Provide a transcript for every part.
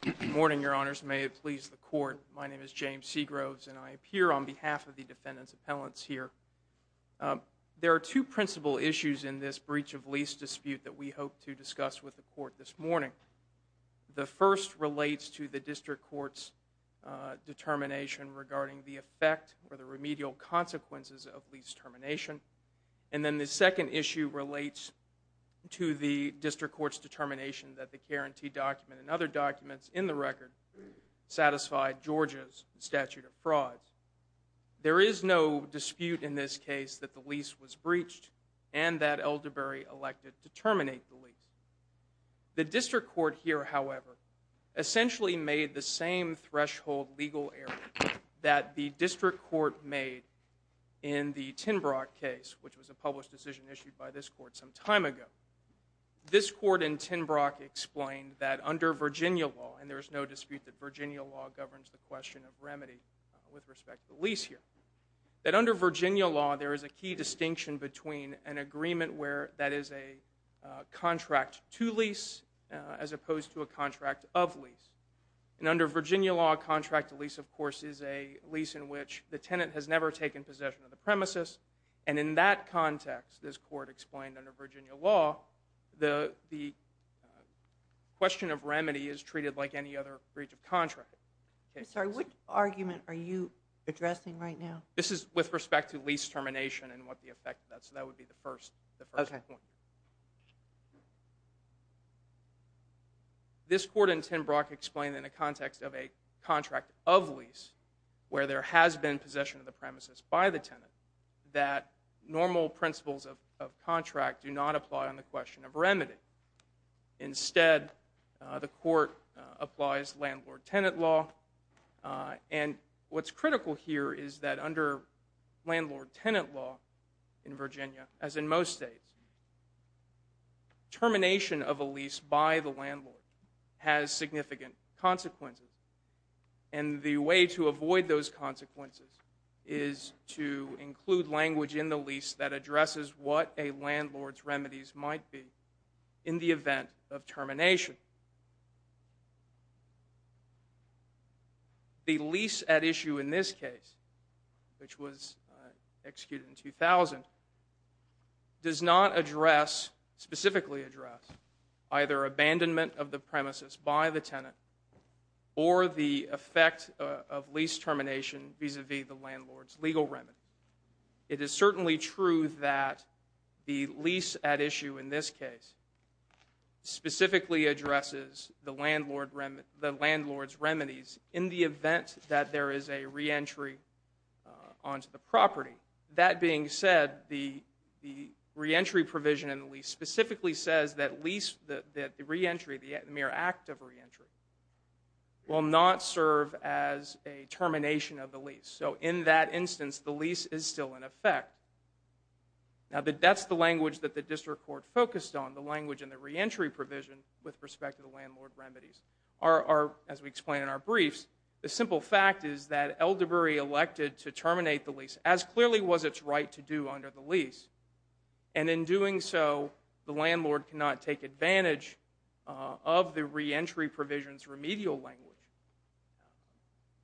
Good morning, Your Honors. May it please the Court, my name is James Seagroves and I appear on behalf of the Defendant's Appellants here. There are two principal issues in this breach of lease dispute that we hope to discuss with the Court this morning. The first relates to the District Court's determination regarding the effect or the remedial consequences of lease termination, and then the second issue relates to the District Court's determination that the guarantee document and other documents in the record satisfied Georgia's statute of fraud. There is no dispute in this case that the lease was breached and that Elderberry elected to terminate the lease. The District Court here, however, essentially made the same threshold legal error that the District Court made in the Tinbrook case, which was a published decision issued by this Court some time ago. This Court in Tinbrook explained that under Virginia law, and there is no dispute that Virginia law governs the question of remedy with respect to lease here, that under Virginia law there is a key distinction between an agreement where that is a contract to lease as opposed to a contract of lease. And under Virginia law, a contract to lease, of course, is a lease in which the tenant has never taken possession of the premises, and in that context, this Court explained under Virginia law, the question of remedy is treated like any other breach of contract. I'm sorry, what argument are you addressing right now? This is with respect to lease termination and what the effect of that, so that would be the first point. This Court in Tinbrook explained in a context of a contract of lease where there has been possession of the premises by the tenant, that normal principles of contract do not apply on the question of remedy. Instead, the Court applies landlord-tenant law, and what's critical here is that under landlord- tenant law in Virginia, as in most states, termination of a lease by the landlord has significant consequences, and the way to avoid those consequences is to include language in the lease that addresses what a landlord's remedies might be in the event of termination. The lease at issue in this case, which was executed in 2000, does not address, specifically address, either abandonment of the premises by the tenant or the effect of lease termination vis-a-vis the landlord's legal remedy. It is certainly true that the lease at issue in this case specifically addresses the landlord's remedies in the event that there is a re-entry onto the property. That being said, the re-entry provision in the lease specifically says that the re-entry, the mere act of re-entry, will not serve as a termination of the lease. So in that instance, the lease is still in effect. Now, that's the language that the District Court focused on, the language in the re-entry provision with respect to the landlord remedies. As we explain in our briefs, the simple fact is that Elderberry elected to terminate the lease, as clearly was its right to do under the lease. And in doing so, the landlord cannot take advantage of the re-entry provisions remedial language.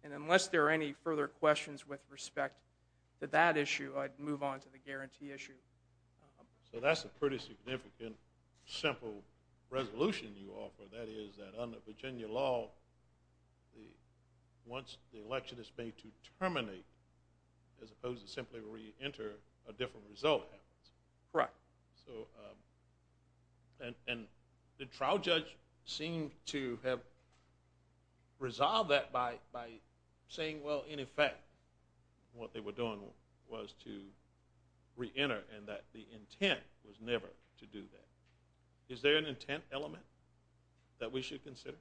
And unless there are any further questions with respect to that issue, I'd move on to the guarantee issue. So that's a pretty significant, simple resolution you offer, that is that under Virginia law, once the election is made to terminate, as opposed to simply re-enter a different result. Correct. So, and the trial judge seemed to have resolved that by saying, well, in effect, what they were doing was to re-enter and that the intent was never to do that. Is there an intent element that we should consider?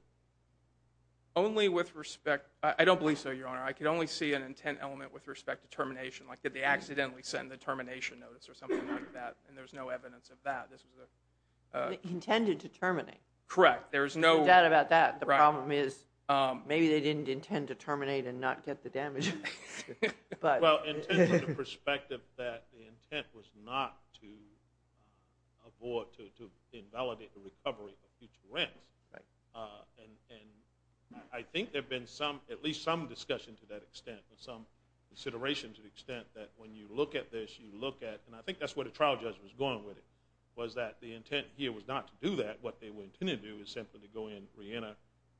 Only with respect, I don't believe so, Your Honor. I could only see an intent element with respect to termination, like did they accidentally send the termination notice or something like that, and there's no evidence of that. Intended to terminate. Correct. There's no doubt about that. The problem is, maybe they didn't intend to terminate and not get the damage. Well, intent from the perspective that the intent was not to avoid, to invalidate the recovery of future rents, and I think there's been at least some discussion to that extent, some consideration to the extent that when you look at this, you look at, and I think that's where the trial judge was going with it, was that the intent here was not to do that. What they were intended to do is simply to go in, re-enter,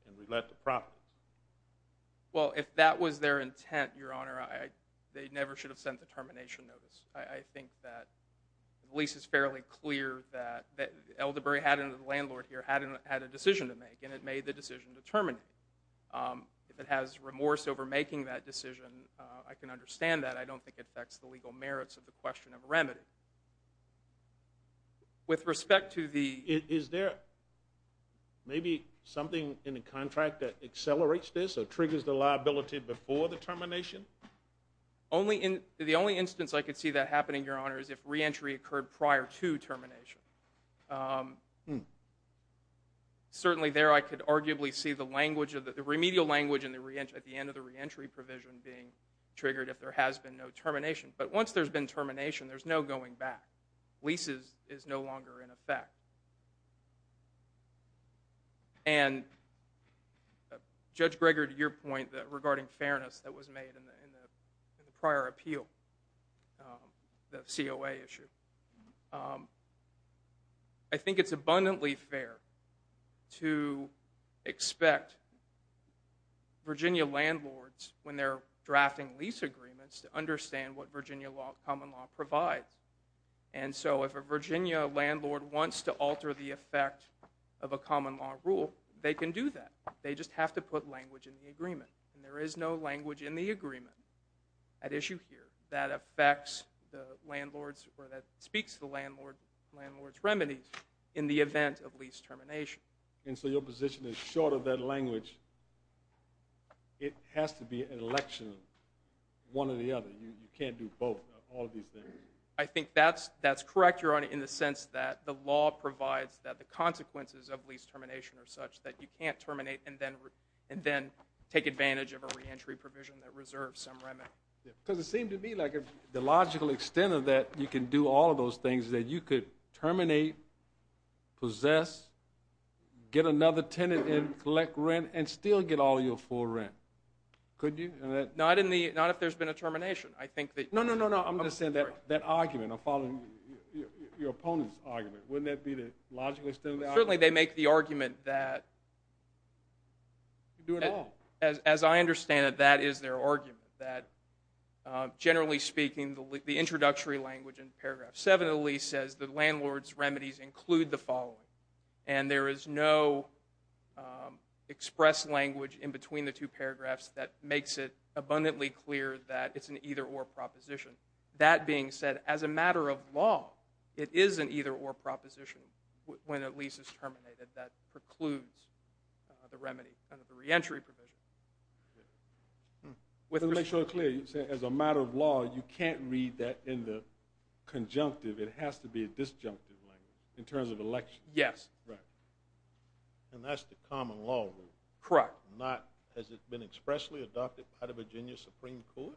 and re-let the property. Well, if that was their intent, Your Honor, they never should have sent the termination notice. I think that at least it's fairly clear that Elderberry had a landlord here, had a decision to make, and it made the decision to terminate. If it has remorse over making that decision, I can understand that. I don't think it affects the legal merits of the question of a remedy. With respect to the... Is there maybe something in the contract that accelerates this or triggers the liability before the termination? The only instance I could see that happening, Your Honor, is if re-entry occurred prior to termination. Certainly there I could arguably see the language, the remedial language, at the end of the re-entry provision being triggered if there has been no termination. But once there's been termination, there's no going back. Leases is no longer in effect. And, Judge Greger, to your point regarding fairness that the prior appeal, the COA issue, I think it's abundantly fair to expect Virginia landlords, when they're drafting lease agreements, to understand what Virginia law, common law, provides. And so if a Virginia landlord wants to alter the effect of a common law rule, they can do that. They just have to put language in the agreement. And there is no language in the agreement at issue here that affects the landlord's or that speaks to the landlord's remedies in the event of lease termination. And so your position is short of that language, it has to be an election of one or the other. You can't do both. I think that's that's correct, Your Honor, in the sense that the law provides that the consequences of lease termination are such that you can't terminate and then take advantage of a re-entry provision that reserves some remedy. Because it seemed to me like if the logical extent of that, you can do all of those things, that you could terminate, possess, get another tenant in, collect rent, and still get all your full rent. Could you? Not if there's been a termination. I think that... No, no, no, no, I'm just saying that that argument, I'm following your opponent's argument. Wouldn't that be the logical extent of the argument? Certainly they make the argument that... You can do it all. As I understand it, that is their argument. That generally speaking, the introductory language in paragraph 7 of the lease says the landlord's remedies include the following. And there is no expressed language in between the two paragraphs that makes it abundantly clear that it's an either-or proposition. That being said, as a matter of law, it isn't either-or proposition when a lease is terminated that precludes the remedy under the re-entry provision. To make sure it's clear, as a matter of law, you can't read that in the conjunctive. It has to be a disjunctive language in terms of election. Yes. And that's the common law rule. Correct. Has it been expressly adopted by the Virginia Supreme Court?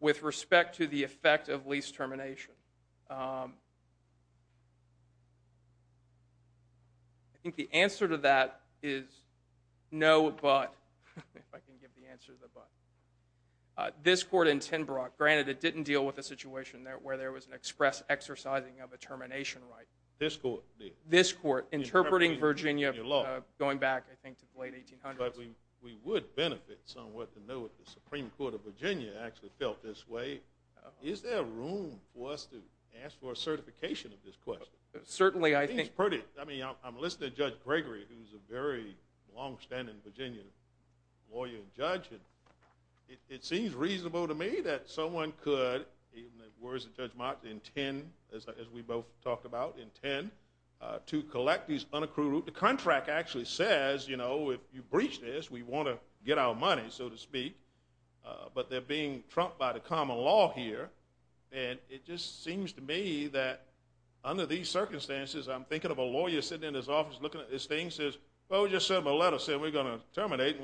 With respect to the effect of lease termination? I think the answer to that is no, but. If I can give the answer to the but. This court in Tinbrook, granted it didn't deal with a situation there where there was an express exercising of a termination right. This court did? This court, interpreting Virginia going back, I think, to the late 1800s. But we would benefit somewhat to know if the Supreme Court of Virginia actually felt this way. Is there room for us to ask for a certification of this question? Certainly, I think. I mean, I'm listening to Judge Gregory, who's a very long-standing Virginia lawyer and judge, and it seems reasonable to me that someone could, in the words of Judge Marks, intend, as we both talked about, intend to collect these unaccrued. The contract actually says, you breached this, we want to get our money, so to speak. But they're being trumped by the common law here, and it just seems to me that under these circumstances, I'm thinking of a lawyer sitting in his office looking at this thing, says, oh, just sent my letter, said we're going to terminate.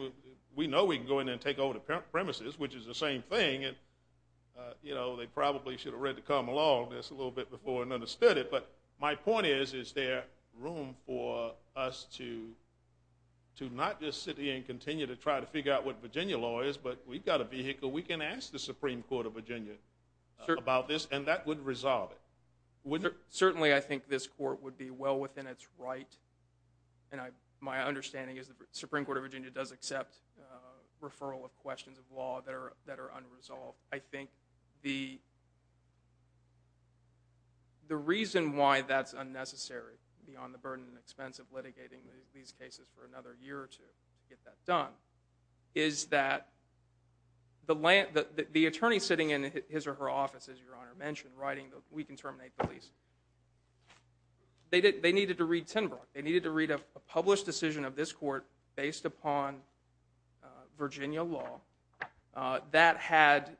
We know we can go in and take over the premises, which is the same thing. And, you know, they probably should have read the common law on this a little bit before and understood it. But my understanding is that the Supreme Court of Virginia does accept referral of questions of law that are unresolved. I think the reason why that's unnecessary, beyond the reason why we can't get that done, is that the attorney sitting in his or her office, as Your Honor mentioned, writing, we can terminate the lease, they needed to read Tinbrook. They needed to read a published decision of this court based upon Virginia law that had,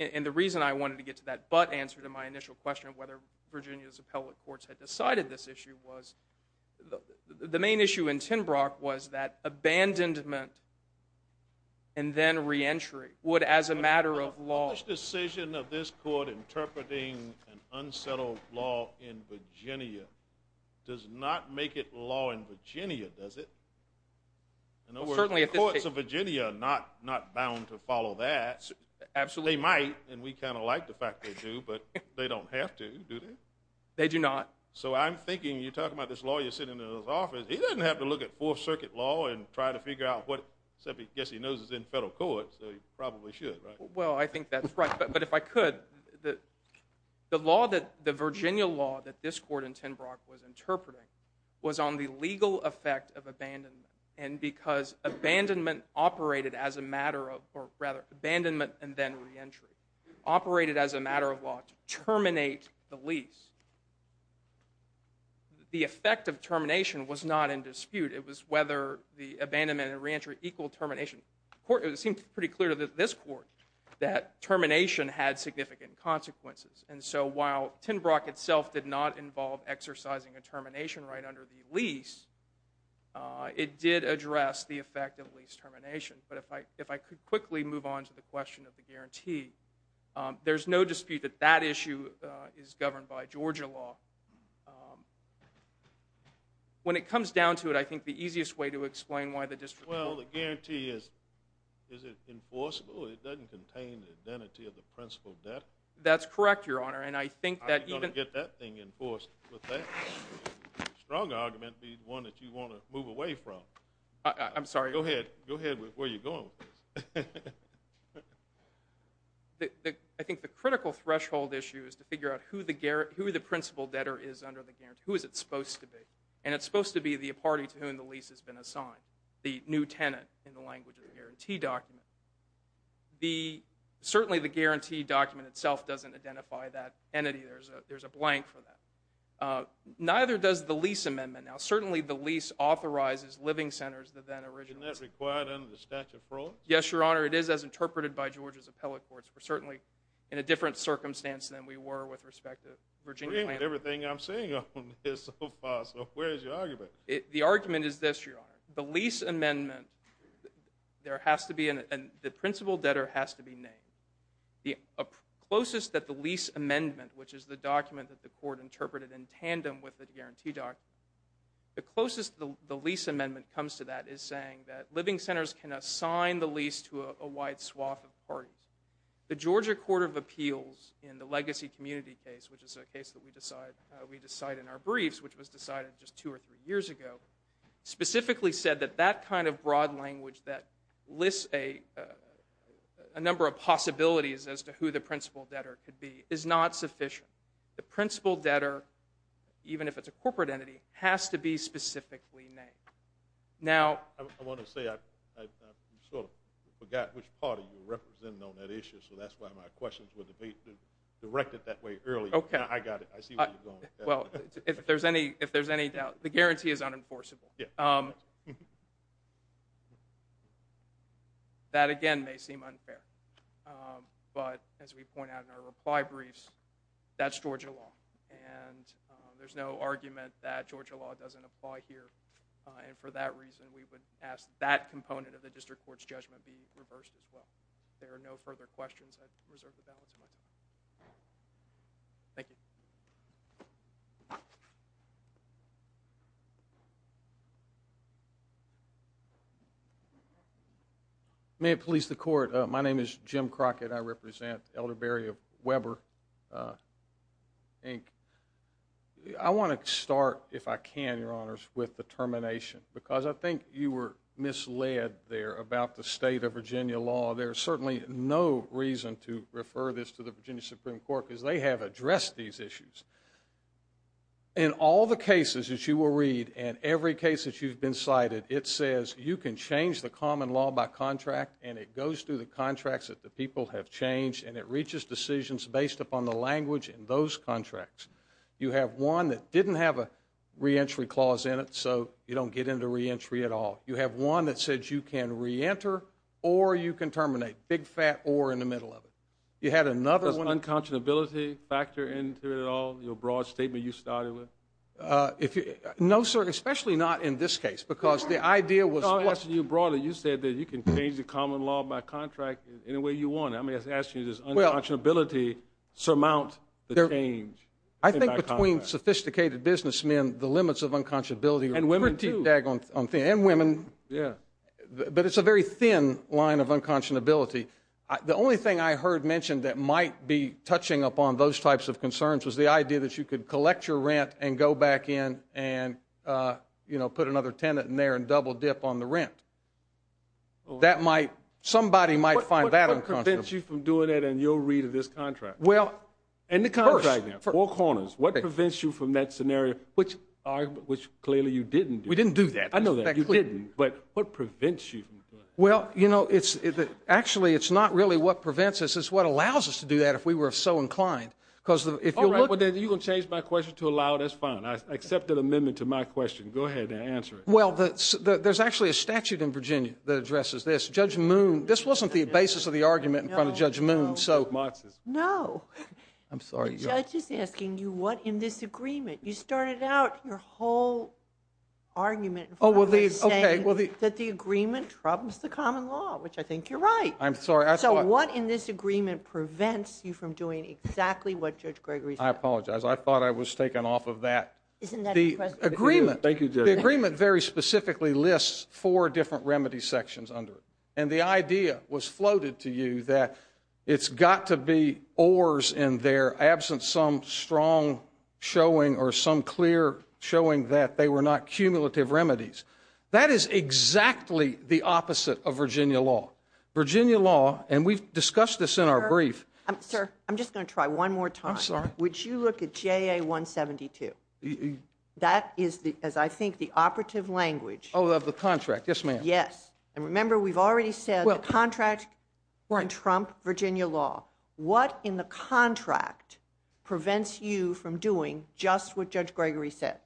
and the reason I wanted to get to that but answer to my initial question of whether Virginia's appellate courts had decided this issue was, the main issue in Tinbrook was that abandonment and then re-entry would, as a matter of law... The decision of this court interpreting an unsettled law in Virginia does not make it law in Virginia, does it? In other words, the courts of Virginia are not bound to follow that. Absolutely. They might, and we I'm thinking, you're talking about this lawyer sitting in his office, he doesn't have to look at Fourth Circuit law and try to figure out what, except I guess he knows it's in federal court, so he probably should, right? Well, I think that's right, but if I could, the law that, the Virginia law that this court in Tinbrook was interpreting, was on the legal effect of abandonment, and because abandonment operated as a matter of, or rather, abandonment and then re-entry, operated as a matter of law to the effect of termination was not in dispute. It was whether the abandonment and re-entry equaled termination. It seemed pretty clear to this court that termination had significant consequences, and so while Tinbrook itself did not involve exercising a termination right under the lease, it did address the effect of lease termination, but if I could quickly move on to the question of the guarantee, there's no dispute that that issue is governed by When it comes down to it, I think the easiest way to explain why the district Well, the guarantee is, is it enforceable? It doesn't contain the identity of the principal debtor. That's correct, Your Honor, and I think that even... How are you going to get that thing enforced with that? Strong argument be the one that you want to move away from. I'm sorry? Go ahead, go ahead with where you're going with this. I think the critical threshold issue is to is it supposed to be, and it's supposed to be the party to whom the lease has been assigned, the new tenant in the language of the guarantee document. Certainly the guarantee document itself doesn't identify that entity. There's a there's a blank for that. Neither does the lease amendment. Now, certainly the lease authorizes living centers that then originally... Isn't that required under the statute of frauds? Yes, Your Honor, it is as interpreted by Georgia's appellate courts. We're certainly in a different circumstance than we were with respect to Virginia Planned Affairs and everything I'm seeing on this so far, so where's your argument? The argument is this, Your Honor. The lease amendment, there has to be, and the principal debtor has to be named. The closest that the lease amendment, which is the document that the court interpreted in tandem with the guarantee document, the closest the lease amendment comes to that is saying that living centers can assign the lease to a wide swath of parties. The Georgia Court of Appeals in the Legacy Community case, which is a case that we decide we decide in our briefs, which was decided just two or three years ago, specifically said that that kind of broad language that lists a number of possibilities as to who the principal debtor could be is not sufficient. The principal debtor, even if it's a corporate entity, has to be specifically named. Now, I want to say I sort of forgot which party you were representing on that issue, so that's why my questions were directed that way early. Okay. I got it. I see where you're going. Well, if there's any, if there's any doubt, the guarantee is unenforceable. That, again, may seem unfair, but as we point out in our reply briefs, that's Georgia law, and there's no argument that Georgia law doesn't apply here, and for that reason we would ask that component of the district court's judgment be reserved the balance of my time. Thank you. May it please the court, my name is Jim Crockett. I represent Elderberry of Weber, Inc. I want to start, if I can, your honors, with the termination, because I think you were misled there about the state of Virginia law. There's certainly no reason to refer this to the Virginia Supreme Court, because they have addressed these issues. In all the cases that you will read, and every case that you've been cited, it says you can change the common law by contract, and it goes through the contracts that the people have changed, and it reaches decisions based upon the language in those contracts. You have one that didn't have a re-entry clause in it, so you don't get into re-entry at all. You have one that says you can re-enter, or you can terminate, big fat or in the middle of it. You had another one... Does unconscionability factor into it at all, your broad statement you started with? No, sir, especially not in this case, because the idea was... No, I'm asking you broader. You said that you can change the common law by contract any way you want. I'm asking you, does unconscionability surmount the change? I think between sophisticated businessmen, the limits of unconscionability... And women, but it's a very thin line of unconscionability. The only thing I heard mentioned that might be touching upon those types of concerns was the idea that you could collect your rent and go back in and, you know, put another tenant in there and double dip on the rent. That might... Somebody might find that unconscionable. What prevents you from doing it in your read of this contract? Well... In the contract, four corners. What prevents you from that scenario, which clearly you didn't do. We didn't do that. I know that. You didn't, but what prevents you from doing it? Well, you know, it's... Actually, it's not really what prevents us, it's what allows us to do that if we were so inclined. Because if you look... Alright, well then, you're going to change my question to allow, that's fine. I accept that amendment to my question. Go ahead and answer it. Well, there's actually a statute in Virginia that addresses this. Judge Moon... This wasn't the basis of the argument in front of Judge Moon, so... No, no, no. ...argument in front of me saying that the agreement troubles the common law, which I think you're right. I'm sorry, I thought... So what in this agreement prevents you from doing exactly what Judge Gregory said? I apologize. I thought I was taken off of that. Isn't that impressive? Thank you, Judge. The agreement very specifically lists four different remedy sections under it. And the idea was floated to you that it's got to be oars in there. And that's why, in the absence of some strong showing or some clear showing that they were not cumulative remedies, that is exactly the opposite of Virginia law. Virginia law, and we've discussed this in our brief... Sir, I'm just going to try one more time. I'm sorry. Would you look at JA 172? That is, as I think, the operative language... Oh, of the contract. Yes, ma'am. Yes. And remember, we've already said the contract can trump Virginia law. What in the contract prevents you from doing just what Judge Gregory said?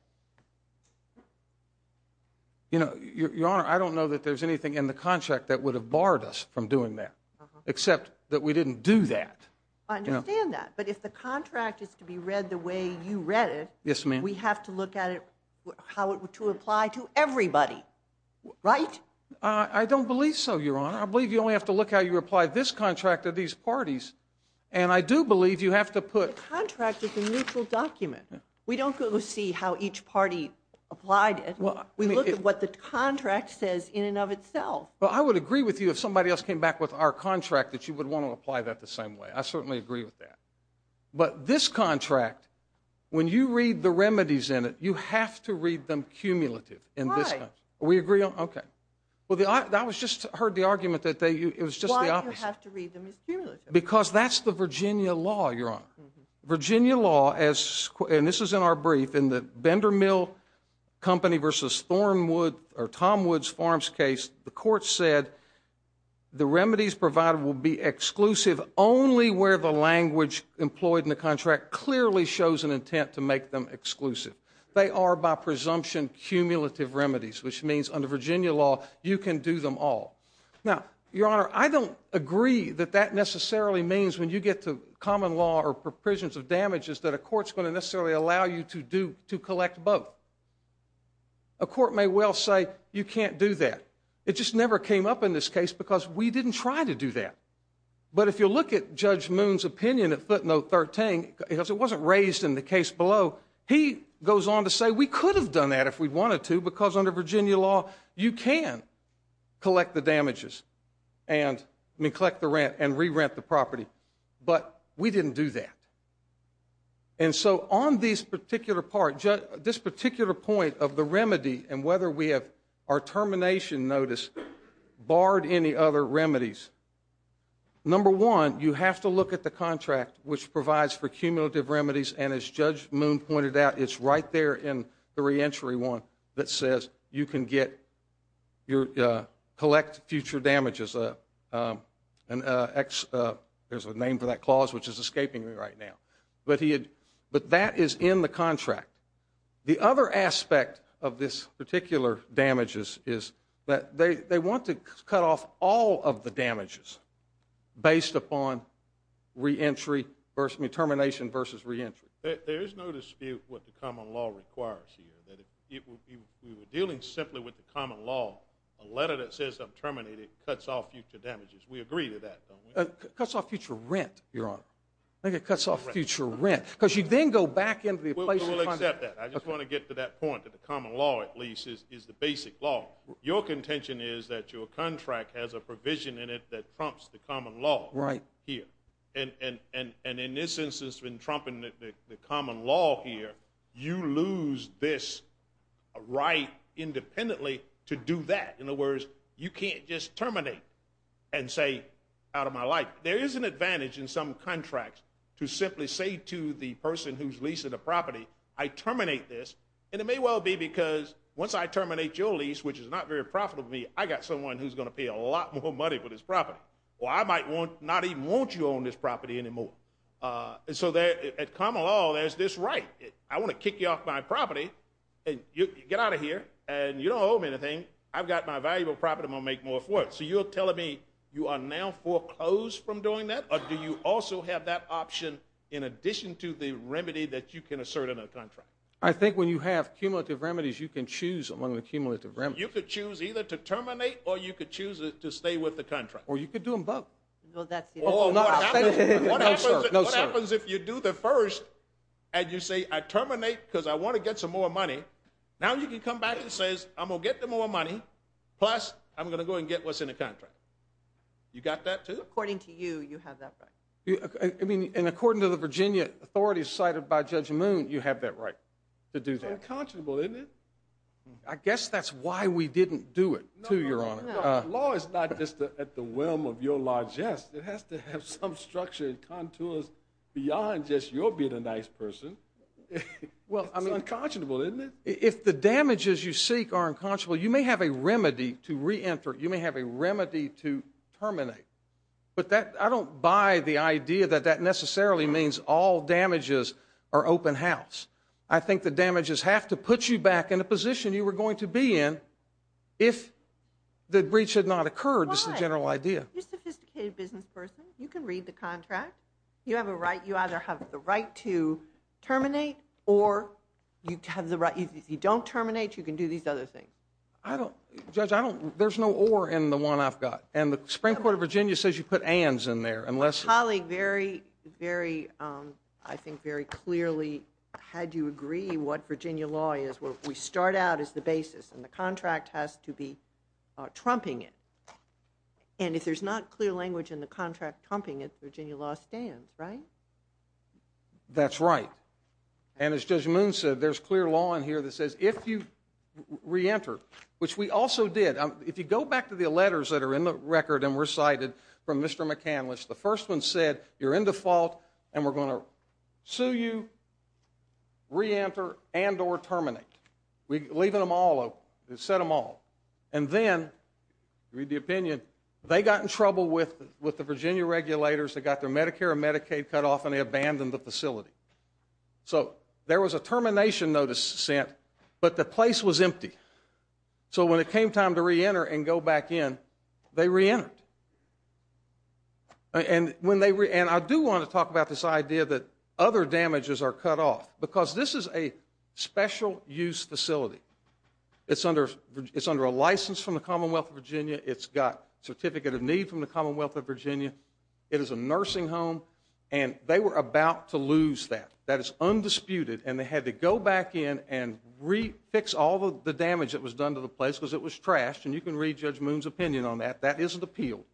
You know, Your Honor, I don't know that there's anything in the contract that would have barred us from doing that. Except that we didn't do that. I understand that. But if the contract is to be read the way you read it... Yes, ma'am. We have to look at how it would apply to everybody. Right? I don't believe so, Your Honor. I believe you only have to look at how you apply this contract to these parties. And I do believe you have to put... The contract is a mutual document. We don't go see how each party applied it. We look at what the contract says in and of itself. Well, I would agree with you if somebody else came back with our contract that you would want to apply that the same way. I certainly agree with that. But this contract, when you read the remedies in it, you have to read them cumulative. Why? We agree on... Okay. Well, I just heard the argument that it was just the opposite. Why do you have to read them as cumulative? Because that's the Virginia law, Your Honor. Virginia law, and this is in our brief, in the Bender Mill Company v. Thornwood, or Tom Woods Farms case, the court said the remedies provided will be exclusive only where the language employed in the contract clearly shows an intent to make them exclusive. They are, by presumption, cumulative remedies, which means under Virginia law, you can do them all. Now, Your Honor, I don't agree that that necessarily means when you get to common law or provisions of damages that a court's going to necessarily allow you to collect both. A court may well say, you can't do that. It just never came up in this case because we didn't try to do that. But if you look at Judge Moon's opinion at footnote 13, because it wasn't raised in the case below, he goes on to say we could have done that if we wanted to because under Virginia law, you can collect the damages and collect the rent and re-rent the property, but we didn't do that. And so on this particular part, this particular point of the remedy and whether we have our termination notice barred any other remedies, number one, you have to look at the contract, which provides for cumulative remedies, and as Judge Moon pointed out, it's right there in the re-entry one that says you can collect future damages. There's a name for that clause, which is escaping me right now. But that is in the contract. The other aspect of this particular damages is that they want to cut off all of the damages based upon termination versus re-entry. There is no dispute what the common law requires here. We were dealing simply with the common law. A letter that says I'm terminated cuts off future damages. We agree to that, don't we? It cuts off future rent, Your Honor. I think it cuts off future rent because you then go back into the place of the contract. I will accept that. I just want to get to that point that the common law, at least, is the basic law. Your contention is that your contract has a provision in it that trumps the common law here. And in this instance, when trumping the common law here, you lose this right independently to do that. In other words, you can't just terminate and say, out of my life. There is an advantage in some contracts to simply say to the person who's leasing a property, I terminate this. And it may well be because once I terminate your lease, which is not very profitable to me, I got someone who's going to pay a lot more money for this property. Or I might not even want you on this property anymore. So at common law, there's this right. I want to kick you off my property. Get out of here. And you don't owe me anything. I've got my valuable property. I'm going to make more for it. So you're telling me you are now foreclosed from doing that? Or do you also have that option in addition to the remedy that you can assert in a contract? I think when you have cumulative remedies, you can choose among the cumulative remedies. You could choose either to terminate or you could choose to stay with the contract. Or you could do them both. No, that's the answer. What happens if you do the first and you say, I terminate because I want to get some more money. Now you can come back and say, I'm going to get the more money. Plus, I'm going to go and get what's in the contract. You got that too? According to you, you have that right. And according to the Virginia authorities cited by Judge Moon, you have that right to do that. It's unconscionable, isn't it? I guess that's why we didn't do it too, Your Honor. Law is not just at the whim of your largesse. It has to have some structure and contours beyond just your being a nice person. It's unconscionable, isn't it? If the damages you seek are unconscionable, you may have a remedy to reenter. You may have a remedy to terminate. But I don't buy the idea that that necessarily means all damages are open house. I think the damages have to put you back in a position you were going to be in if the breach had not occurred. Why? It's a general idea. You're a sophisticated business person. You can read the contract. You either have the right to terminate or if you don't terminate, you can do these other things. Judge, there's no or in the one I've got. And the Supreme Court of Virginia says you put ands in there. Colleague, I think very clearly had you agree what Virginia law is, we start out as the basis. And the contract has to be trumping it. And if there's not clear language in the contract trumping it, Virginia law stands, right? That's right. And as Judge Moon said, there's clear law in here that says if you reenter, which we also did. If you go back to the letters that are in the record and recited from Mr. McAnlis, the first one said you're in default and we're going to sue you, reenter, and or terminate. We're leaving them all out. It said them all. And then, read the opinion, they got in trouble with the Virginia regulators. They got their Medicare and Medicaid cut off and they abandoned the facility. So there was a termination notice sent, but the place was empty. So when it came time to reenter and go back in, they reentered. And I do want to talk about this idea that other damages are cut off because this is a special use facility. It's under a license from the Commonwealth of Virginia. It's got a certificate of need from the Commonwealth of Virginia. It is a nursing home, and they were about to lose that. That is undisputed, and they had to go back in and fix all the damage that was done to the place because it was trashed, and you can read Judge Moon's opinion on that. That isn't appealed.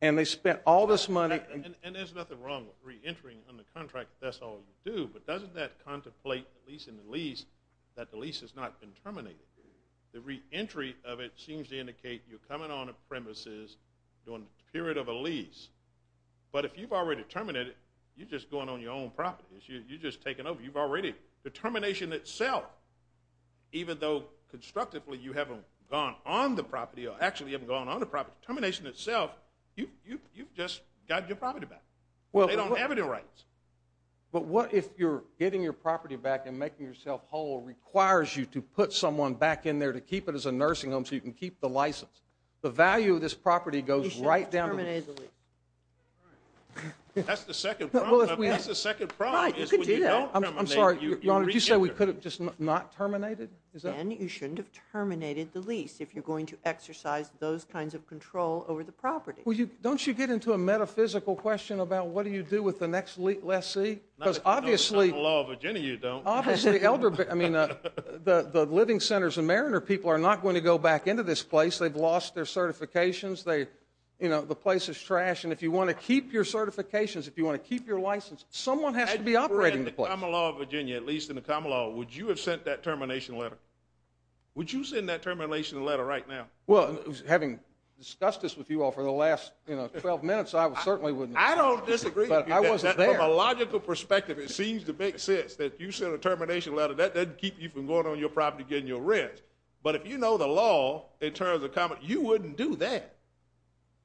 And they spent all this money. And there's nothing wrong with reentering on the contract if that's all you do, but doesn't that contemplate, at least in the lease, that the lease has not been terminated? The reentry of it seems to indicate you're coming on a premises during the period of a lease. But if you've already terminated, you're just going on your own property. You're just taking over. The termination itself, even though constructively you haven't gone on the property or actually haven't gone on the property, the termination itself, you've just got your property back. They don't have it in rights. But what if you're getting your property back and making yourself whole requires you to put someone back in there to keep it as a nursing home so you can keep the license? The value of this property goes right down to the lease. You shouldn't have terminated the lease. That's the second problem. That's the second problem is when you don't terminate, you reenter. I'm sorry, Your Honor, did you say we could have just not terminated? Ben, you shouldn't have terminated the lease if you're going to exercise those kinds of control over the property. Don't you get into a metaphysical question about what do you do with the next lessee? Because obviously the living centers and mariner people are not going to go back into this place. They've lost their certifications. The place is trash, and if you want to keep your certifications, if you want to keep your license, someone has to be operating the place. At least in the common law, would you have sent that termination letter? Would you send that termination letter right now? Well, having discussed this with you all for the last, you know, 12 minutes, I certainly wouldn't have. I don't disagree. But I wasn't there. From a logical perspective, it seems to make sense that you sent a termination letter. That doesn't keep you from going on your property and getting your rent. But if you know the law in terms of common law, you wouldn't do that.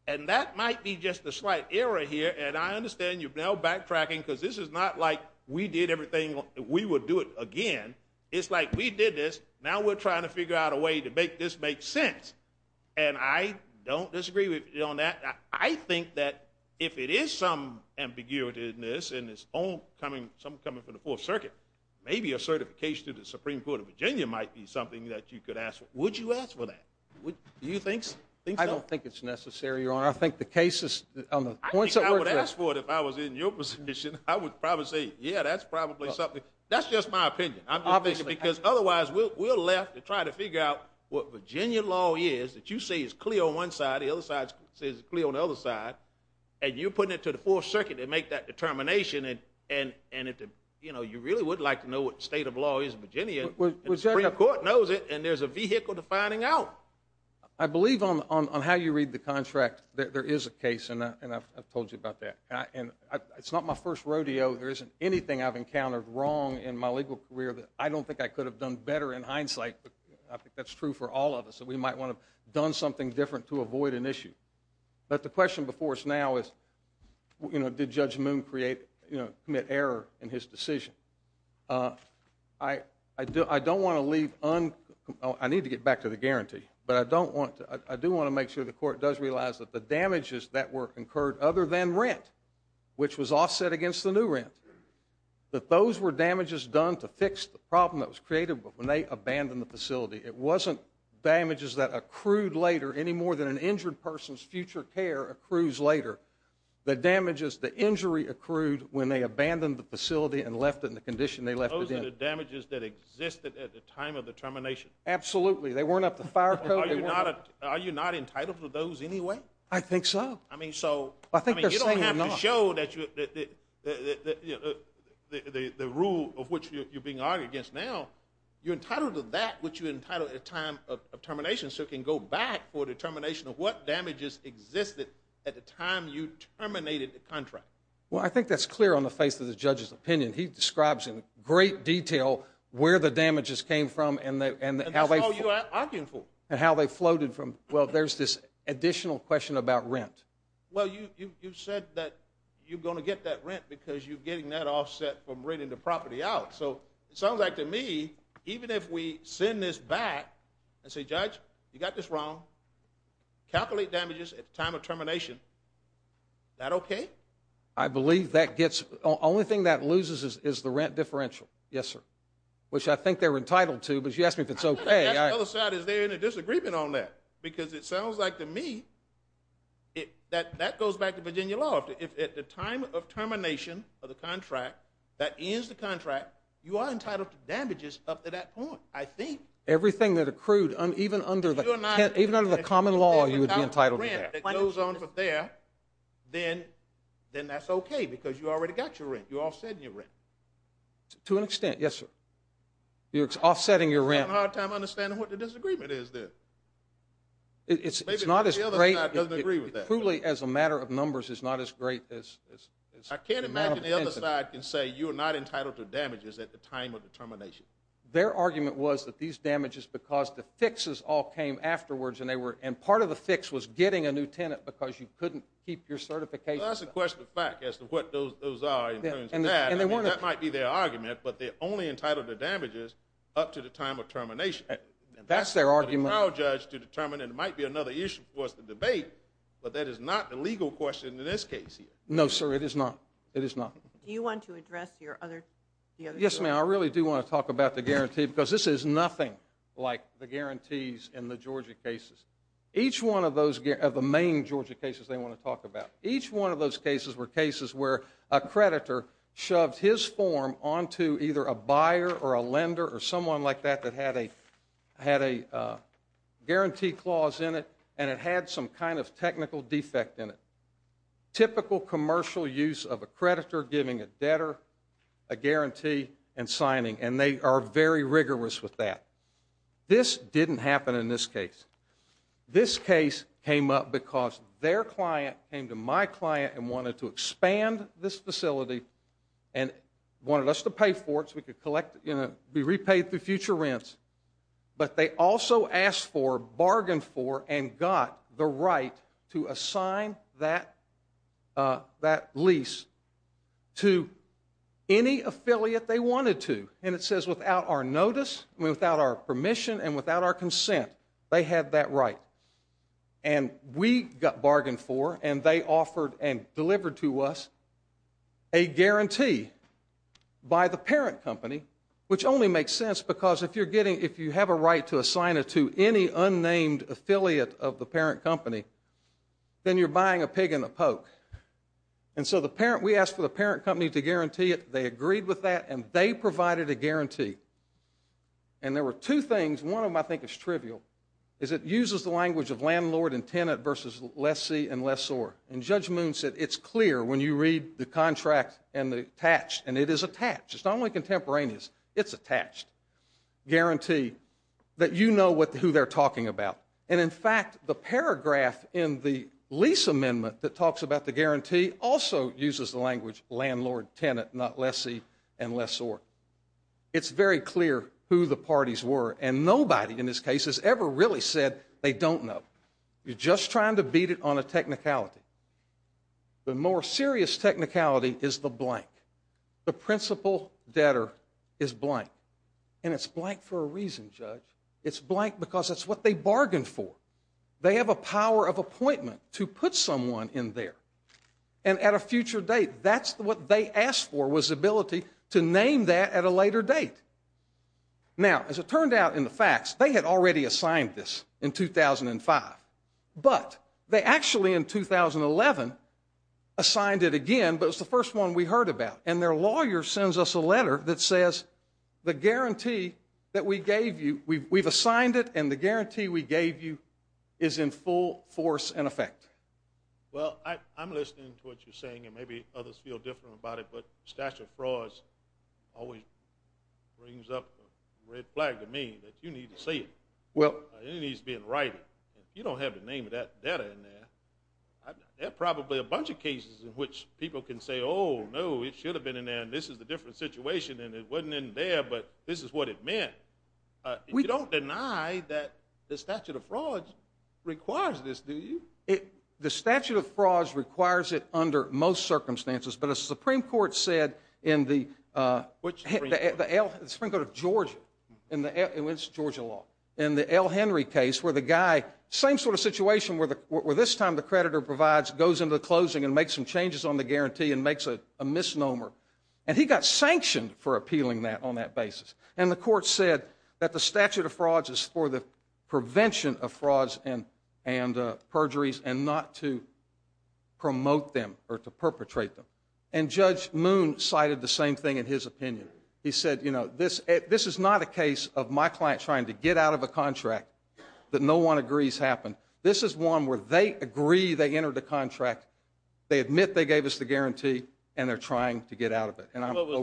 And that might be just a slight error here, and I understand you're now backtracking because this is not like we did everything, we would do it again. It's like we did this, now we're trying to figure out a way to make this make sense. And I don't disagree with you on that. I think that if it is some ambiguity in this, and it's all coming from the Fourth Circuit, maybe a certification to the Supreme Court of Virginia might be something that you could ask for. Would you ask for that? Do you think so? I don't think it's necessary, Your Honor. I think the cases on the points that were addressed. I think I would ask for it if I was in your position. I would probably say, yeah, that's probably something. That's just my opinion. I'm just thinking because otherwise we're left to try to figure out what Virginia law is, that you say is clear on one side, the other side says it's clear on the other side, and you're putting it to the Fourth Circuit to make that determination, and you really would like to know what the state of law is in Virginia, and the Supreme Court knows it, and there's a vehicle to finding out. I believe on how you read the contract that there is a case, and I've told you about that. It's not my first rodeo. There isn't anything I've encountered wrong in my legal career that I don't think I could have done better in hindsight. I think that's true for all of us. We might want to have done something different to avoid an issue. But the question before us now is, you know, did Judge Moon commit error in his decision? I don't want to leave un- I need to get back to the guarantee, but I do want to make sure the court does realize that the damages that were incurred other than rent, which was offset against the new rent, that those were damages done to fix the problem that was created when they abandoned the facility. It wasn't damages that accrued later any more than an injured person's future care accrues later. The damages, the injury accrued when they abandoned the facility and left it in the condition they left it in. Those are the damages that existed at the time of the termination. Absolutely. They weren't up to fire code. Are you not entitled to those anyway? I think so. I mean, so you don't have to show that the rule of which you're being argued against now, you're entitled to that which you're entitled at the time of termination so it can go back for determination of what damages existed at the time you terminated the contract. And he describes in great detail where the damages came from and how they floated from. Well, there's this additional question about rent. Well, you said that you're going to get that rent because you're getting that offset from renting the property out. So it sounds like to me even if we send this back and say, Judge, you got this wrong, calculate damages at the time of termination, is that okay? I believe that gets the only thing that loses is the rent differential. Yes, sir. Which I think they're entitled to. But you asked me if it's okay. The other side, is there any disagreement on that? Because it sounds like to me that goes back to Virginia law. If at the time of termination of the contract, that ends the contract, you are entitled to damages up to that point, I think. Everything that accrued, even under the common law, you would be entitled to that. If it goes on from there, then that's okay because you already got your rent. You're offsetting your rent. To an extent, yes, sir. You're offsetting your rent. I'm having a hard time understanding what the disagreement is there. It's not as great. Maybe the other side doesn't agree with that. Truly as a matter of numbers, it's not as great. I can't imagine the other side can say you are not entitled to damages at the time of termination. Their argument was that these damages because the fixes all came afterwards and part of the fix was getting a new tenant because you couldn't keep your certification. That's a question of fact as to what those are in terms of that. That might be their argument, but they're only entitled to damages up to the time of termination. That's their argument. The trial judge to determine it might be another issue for us to debate, but that is not the legal question in this case here. No, sir, it is not. It is not. Do you want to address the other side? Yes, ma'am, I really do want to talk about the guarantee because this is nothing like the guarantees in the Georgia cases. Each one of the main Georgia cases they want to talk about, each one of those cases were cases where a creditor shoved his form onto either a buyer or a lender or someone like that that had a guarantee clause in it and it had some kind of technical defect in it. Typical commercial use of a creditor giving a debtor a guarantee and signing, and they are very rigorous with that. This didn't happen in this case. This case came up because their client came to my client and wanted to expand this facility and wanted us to pay for it so we could be repaid through future rents, but they also asked for, bargained for, and got the right to assign that lease to any affiliate they wanted to. And it says without our notice, without our permission, and without our consent, they had that right. And we got bargained for and they offered and delivered to us a guarantee by the parent company, which only makes sense because if you have a right to assign it to any unnamed affiliate of the parent company, then you're buying a pig in a poke. And so we asked for the parent company to guarantee it. They agreed with that and they provided a guarantee. And there were two things, one of them I think is trivial, is it uses the language of landlord and tenant versus lessee and lessor. And Judge Moon said it's clear when you read the contract and the attached, and it is attached, it's not only contemporaneous, it's attached, guarantee that you know who they're talking about. And in fact, the paragraph in the lease amendment that talks about the guarantee also uses the language landlord, tenant, not lessee and lessor. It's very clear who the parties were and nobody in this case has ever really said they don't know. You're just trying to beat it on a technicality. The more serious technicality is the blank. The principal debtor is blank. And it's blank for a reason, Judge. It's blank because it's what they bargained for. They have a power of appointment to put someone in there. And at a future date, that's what they asked for was the ability to name that at a later date. Now, as it turned out in the facts, they had already assigned this in 2005. But they actually in 2011 assigned it again, but it was the first one we heard about. And their lawyer sends us a letter that says the guarantee that we gave you, we've assigned it and the guarantee we gave you is in full force and effect. Well, I'm listening to what you're saying and maybe others feel different about it, but stature fraud always brings up a red flag to me that you need to see it. It needs to be in writing. You don't have the name of that debtor in there. There are probably a bunch of cases in which people can say, oh, no, it should have been in there and this is a different situation and it wasn't in there, but this is what it meant. You don't deny that the statute of frauds requires this, do you? The statute of frauds requires it under most circumstances. But as the Supreme Court said in the L. Henry case where the guy, same sort of situation where this time the creditor goes into the closing and makes some changes on the guarantee and makes a misnomer. And he got sanctioned for appealing that on that basis. And the court said that the statute of frauds is for the prevention of frauds and perjuries and not to promote them or to perpetrate them. And Judge Moon cited the same thing in his opinion. He said, you know, this is not a case of my client trying to get out of a contract that no one agrees happened. This is one where they agree they entered the contract, they admit they gave us the guarantee, and they're trying to get out of it. And I'm over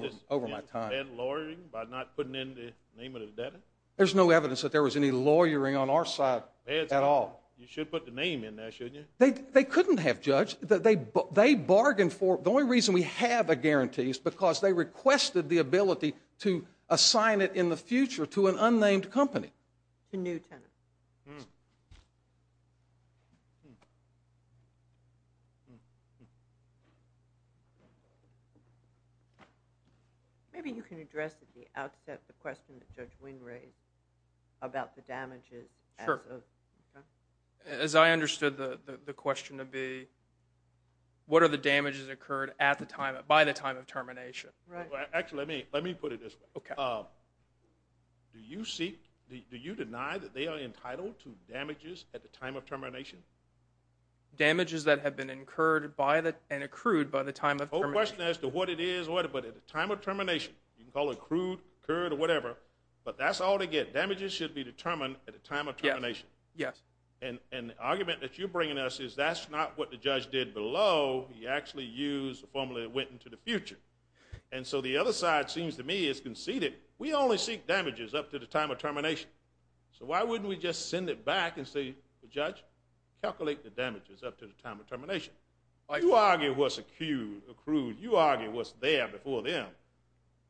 my time. Was this bad lawyering by not putting in the name of the debtor? There's no evidence that there was any lawyering on our side at all. You should put the name in there, shouldn't you? They couldn't have, Judge. They bargained for it. The only reason we have a guarantee is because they requested the ability to assign it in the future to an unnamed company. To new tenants. Maybe you can address at the outset the question that Judge Wynn raised about the damages. As I understood the question to be, what are the damages occurred by the time of termination? Actually, let me put it this way. Do you deny that they are entitled to damages at the time of termination? Damages that have been incurred and accrued by the time of termination. The whole question as to what it is, but at the time of termination, you can call it accrued, incurred, or whatever. But that's all they get. Damages should be determined at the time of termination. Yes. And the argument that you're bringing us is that's not what the judge did below. He actually used a formula that went into the future. And so the other side seems to me is conceited. We only seek damages up to the time of termination. So why wouldn't we just send it back and say, Judge, calculate the damages up to the time of termination? You argue what's accrued. You argue what's there before them.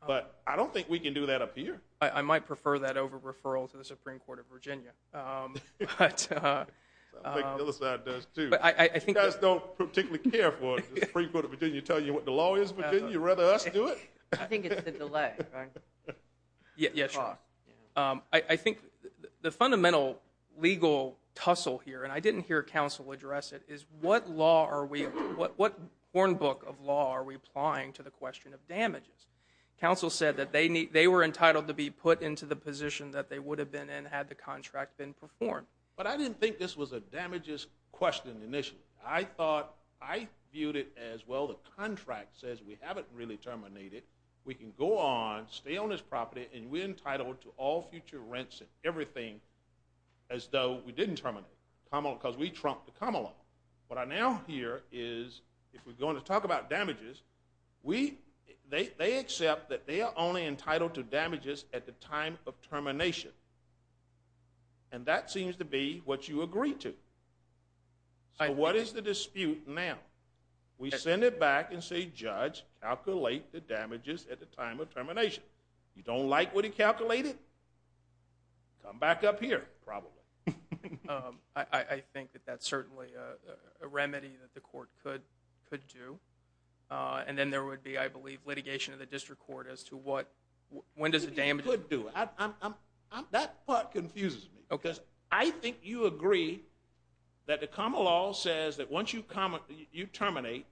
But I don't think we can do that up here. I might prefer that over referral to the Supreme Court of Virginia. I think the other side does, too. You guys don't particularly care for the Supreme Court of Virginia telling you what the law is, Virginia? You'd rather us do it? I think it's the delay. Yeah, sure. I think the fundamental legal tussle here, and I didn't hear counsel address it, is what law are we – what hornbook of law are we applying to the question of damages? Counsel said that they were entitled to be put into the position that they would have been in had the contract been performed. But I didn't think this was a damages question initially. I thought – I viewed it as, well, the contract says we haven't really terminated. We can go on, stay on this property, and we're entitled to all future rents and everything as though we didn't terminate it because we trumped the come along. What I now hear is, if we're going to talk about damages, they accept that they are only entitled to damages at the time of termination, and that seems to be what you agree to. So what is the dispute now? We send it back and say, Judge, calculate the damages at the time of termination. You don't like what he calculated? Come back up here, probably. I think that that's certainly a remedy that the court could do. And then there would be, I believe, litigation in the district court as to what – When does the damages – That part confuses me because I think you agree that the come along says that once you terminate,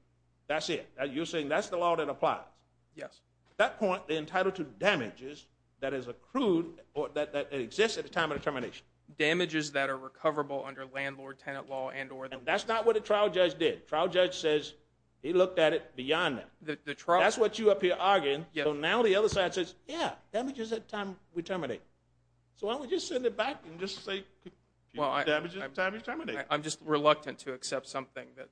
that's it. You're saying that's the law that applies. Yes. At that point, they're entitled to damages that is accrued or that exists at the time of termination. Damages that are recoverable under landlord-tenant law and or – And that's not what a trial judge did. Trial judge says he looked at it beyond that. That's what you up here are arguing. So now the other side says, yeah, damages at the time we terminate. So why don't we just send it back and just say damages at the time of termination. I'm just reluctant to accept something that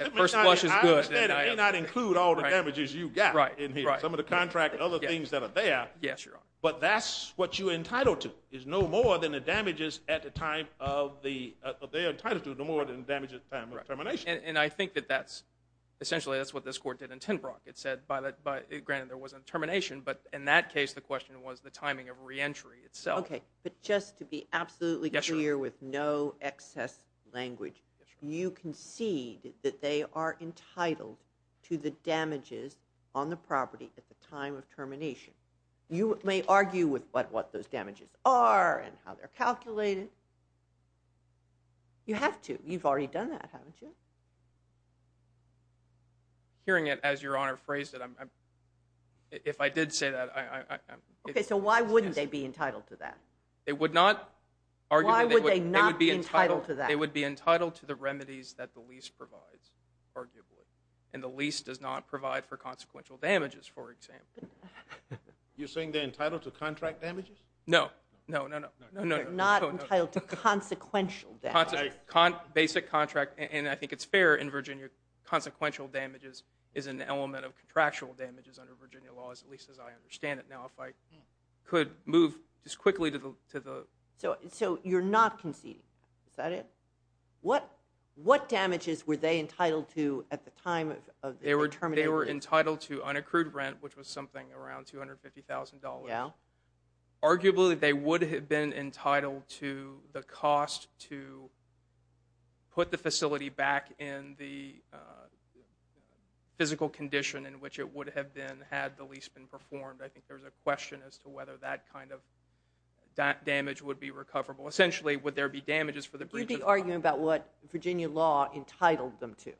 at first flush is good. I understand I may not include all the damages you've got in here, some of the contract and other things that are there. Yes, Your Honor. But that's what you're entitled to is no more than the damages at the time of the – they are entitled to no more than the damages at the time of termination. And I think that that's – essentially that's what this court did in Tinbrook. It said by – granted there was a termination, but in that case the question was the timing of reentry itself. Okay. But just to be absolutely clear with no excess language, you concede that they are entitled to the damages on the property at the time of termination. You may argue with what those damages are and how they're calculated. You have to. You've already done that, haven't you? Hearing it as Your Honor phrased it, if I did say that – Okay. So why wouldn't they be entitled to that? They would not – Why would they not be entitled to that? They would be entitled to the remedies that the lease provides, arguably. And the lease does not provide for consequential damages, for example. You're saying they're entitled to contract damages? No. No, no, no. They're not entitled to consequential damages. Basic contract – and I think it's fair in Virginia, consequential damages is an element of contractual damages under Virginia law, at least as I understand it now. If I could move just quickly to the – So you're not conceding. Is that it? What damages were they entitled to at the time of their termination? They were entitled to unaccrued rent, which was something around $250,000. Arguably, they would have been entitled to the cost to put the facility back in the physical condition in which it would have been had the lease been performed. I think there's a question as to whether that kind of damage would be recoverable. Are you arguing about what Virginia law entitled them to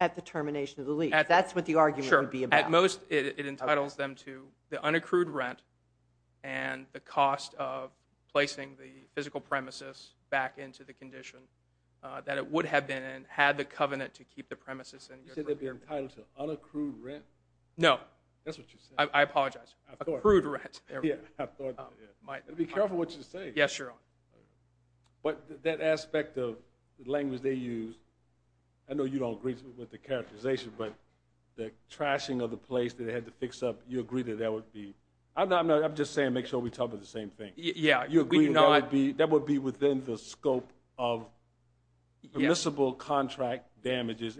at the termination of the lease? That's what the argument would be about. Sure. At most, it entitles them to the unaccrued rent and the cost of placing the physical premises back into the condition that it would have been in had the covenant to keep the premises in. You said they'd be entitled to unaccrued rent. No. That's what you said. I apologize. Accrued rent. I thought that. Be careful what you say. Yes, Your Honor. That aspect of the language they used, I know you don't agree with the characterization, but the trashing of the place that they had to fix up, you agree that that would be. I'm just saying to make sure we talk about the same thing. Yeah. You agree that would be within the scope of permissible contract damages.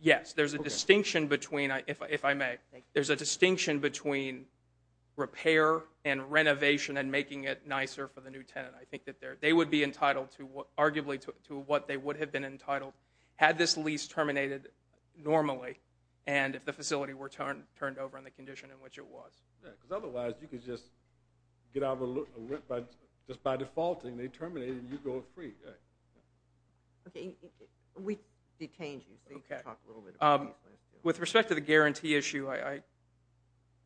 Yes. There's a distinction between, if I may. Making it nicer for the new tenant. I think that they would be entitled, arguably, to what they would have been entitled had this lease terminated normally and if the facility were turned over in the condition in which it was. Yeah, because otherwise, you could just get out of a rent. Just by defaulting, they terminate and you go free. Okay. We detained you, so you can talk a little bit about that. With respect to the guarantee issue,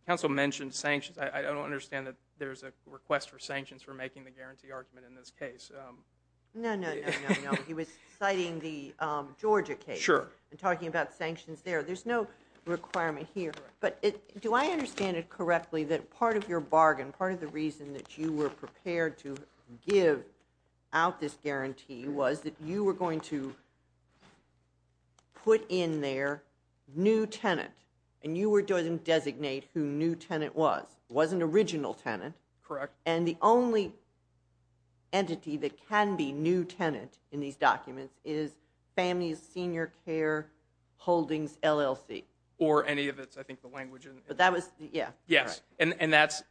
counsel mentioned sanctions. I don't understand that there's a request for sanctions for making the guarantee argument in this case. No, no, no, no, no. He was citing the Georgia case. Sure. And talking about sanctions there. There's no requirement here. But do I understand it correctly that part of your bargain, part of the reason that you were prepared to give out this guarantee was that you were going to put in there new tenant and you were going to designate who new tenant was. It was an original tenant. Correct. And the only entity that can be new tenant in these documents is Families Senior Care Holdings, LLC. Or any of its, I think, the language. But that was, yeah. Yes, and that's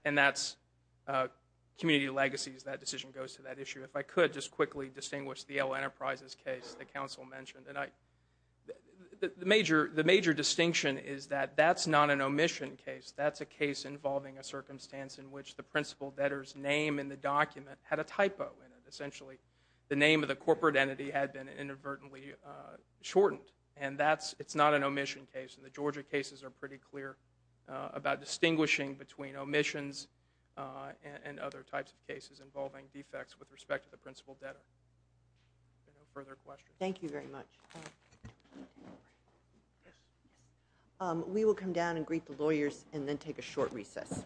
community legacies. That decision goes to that issue. If I could just quickly distinguish the Yale Enterprises case that counsel mentioned. The major distinction is that that's not an omission case. That's a case involving a circumstance in which the principal debtor's name in the document had a typo in it. Essentially, the name of the corporate entity had been inadvertently shortened. And it's not an omission case. And the Georgia cases are pretty clear about distinguishing between omissions and other types of cases involving defects with respect to the principal debtor. Are there no further questions? Thank you very much. We will come down and greet the lawyers and then take a short recess.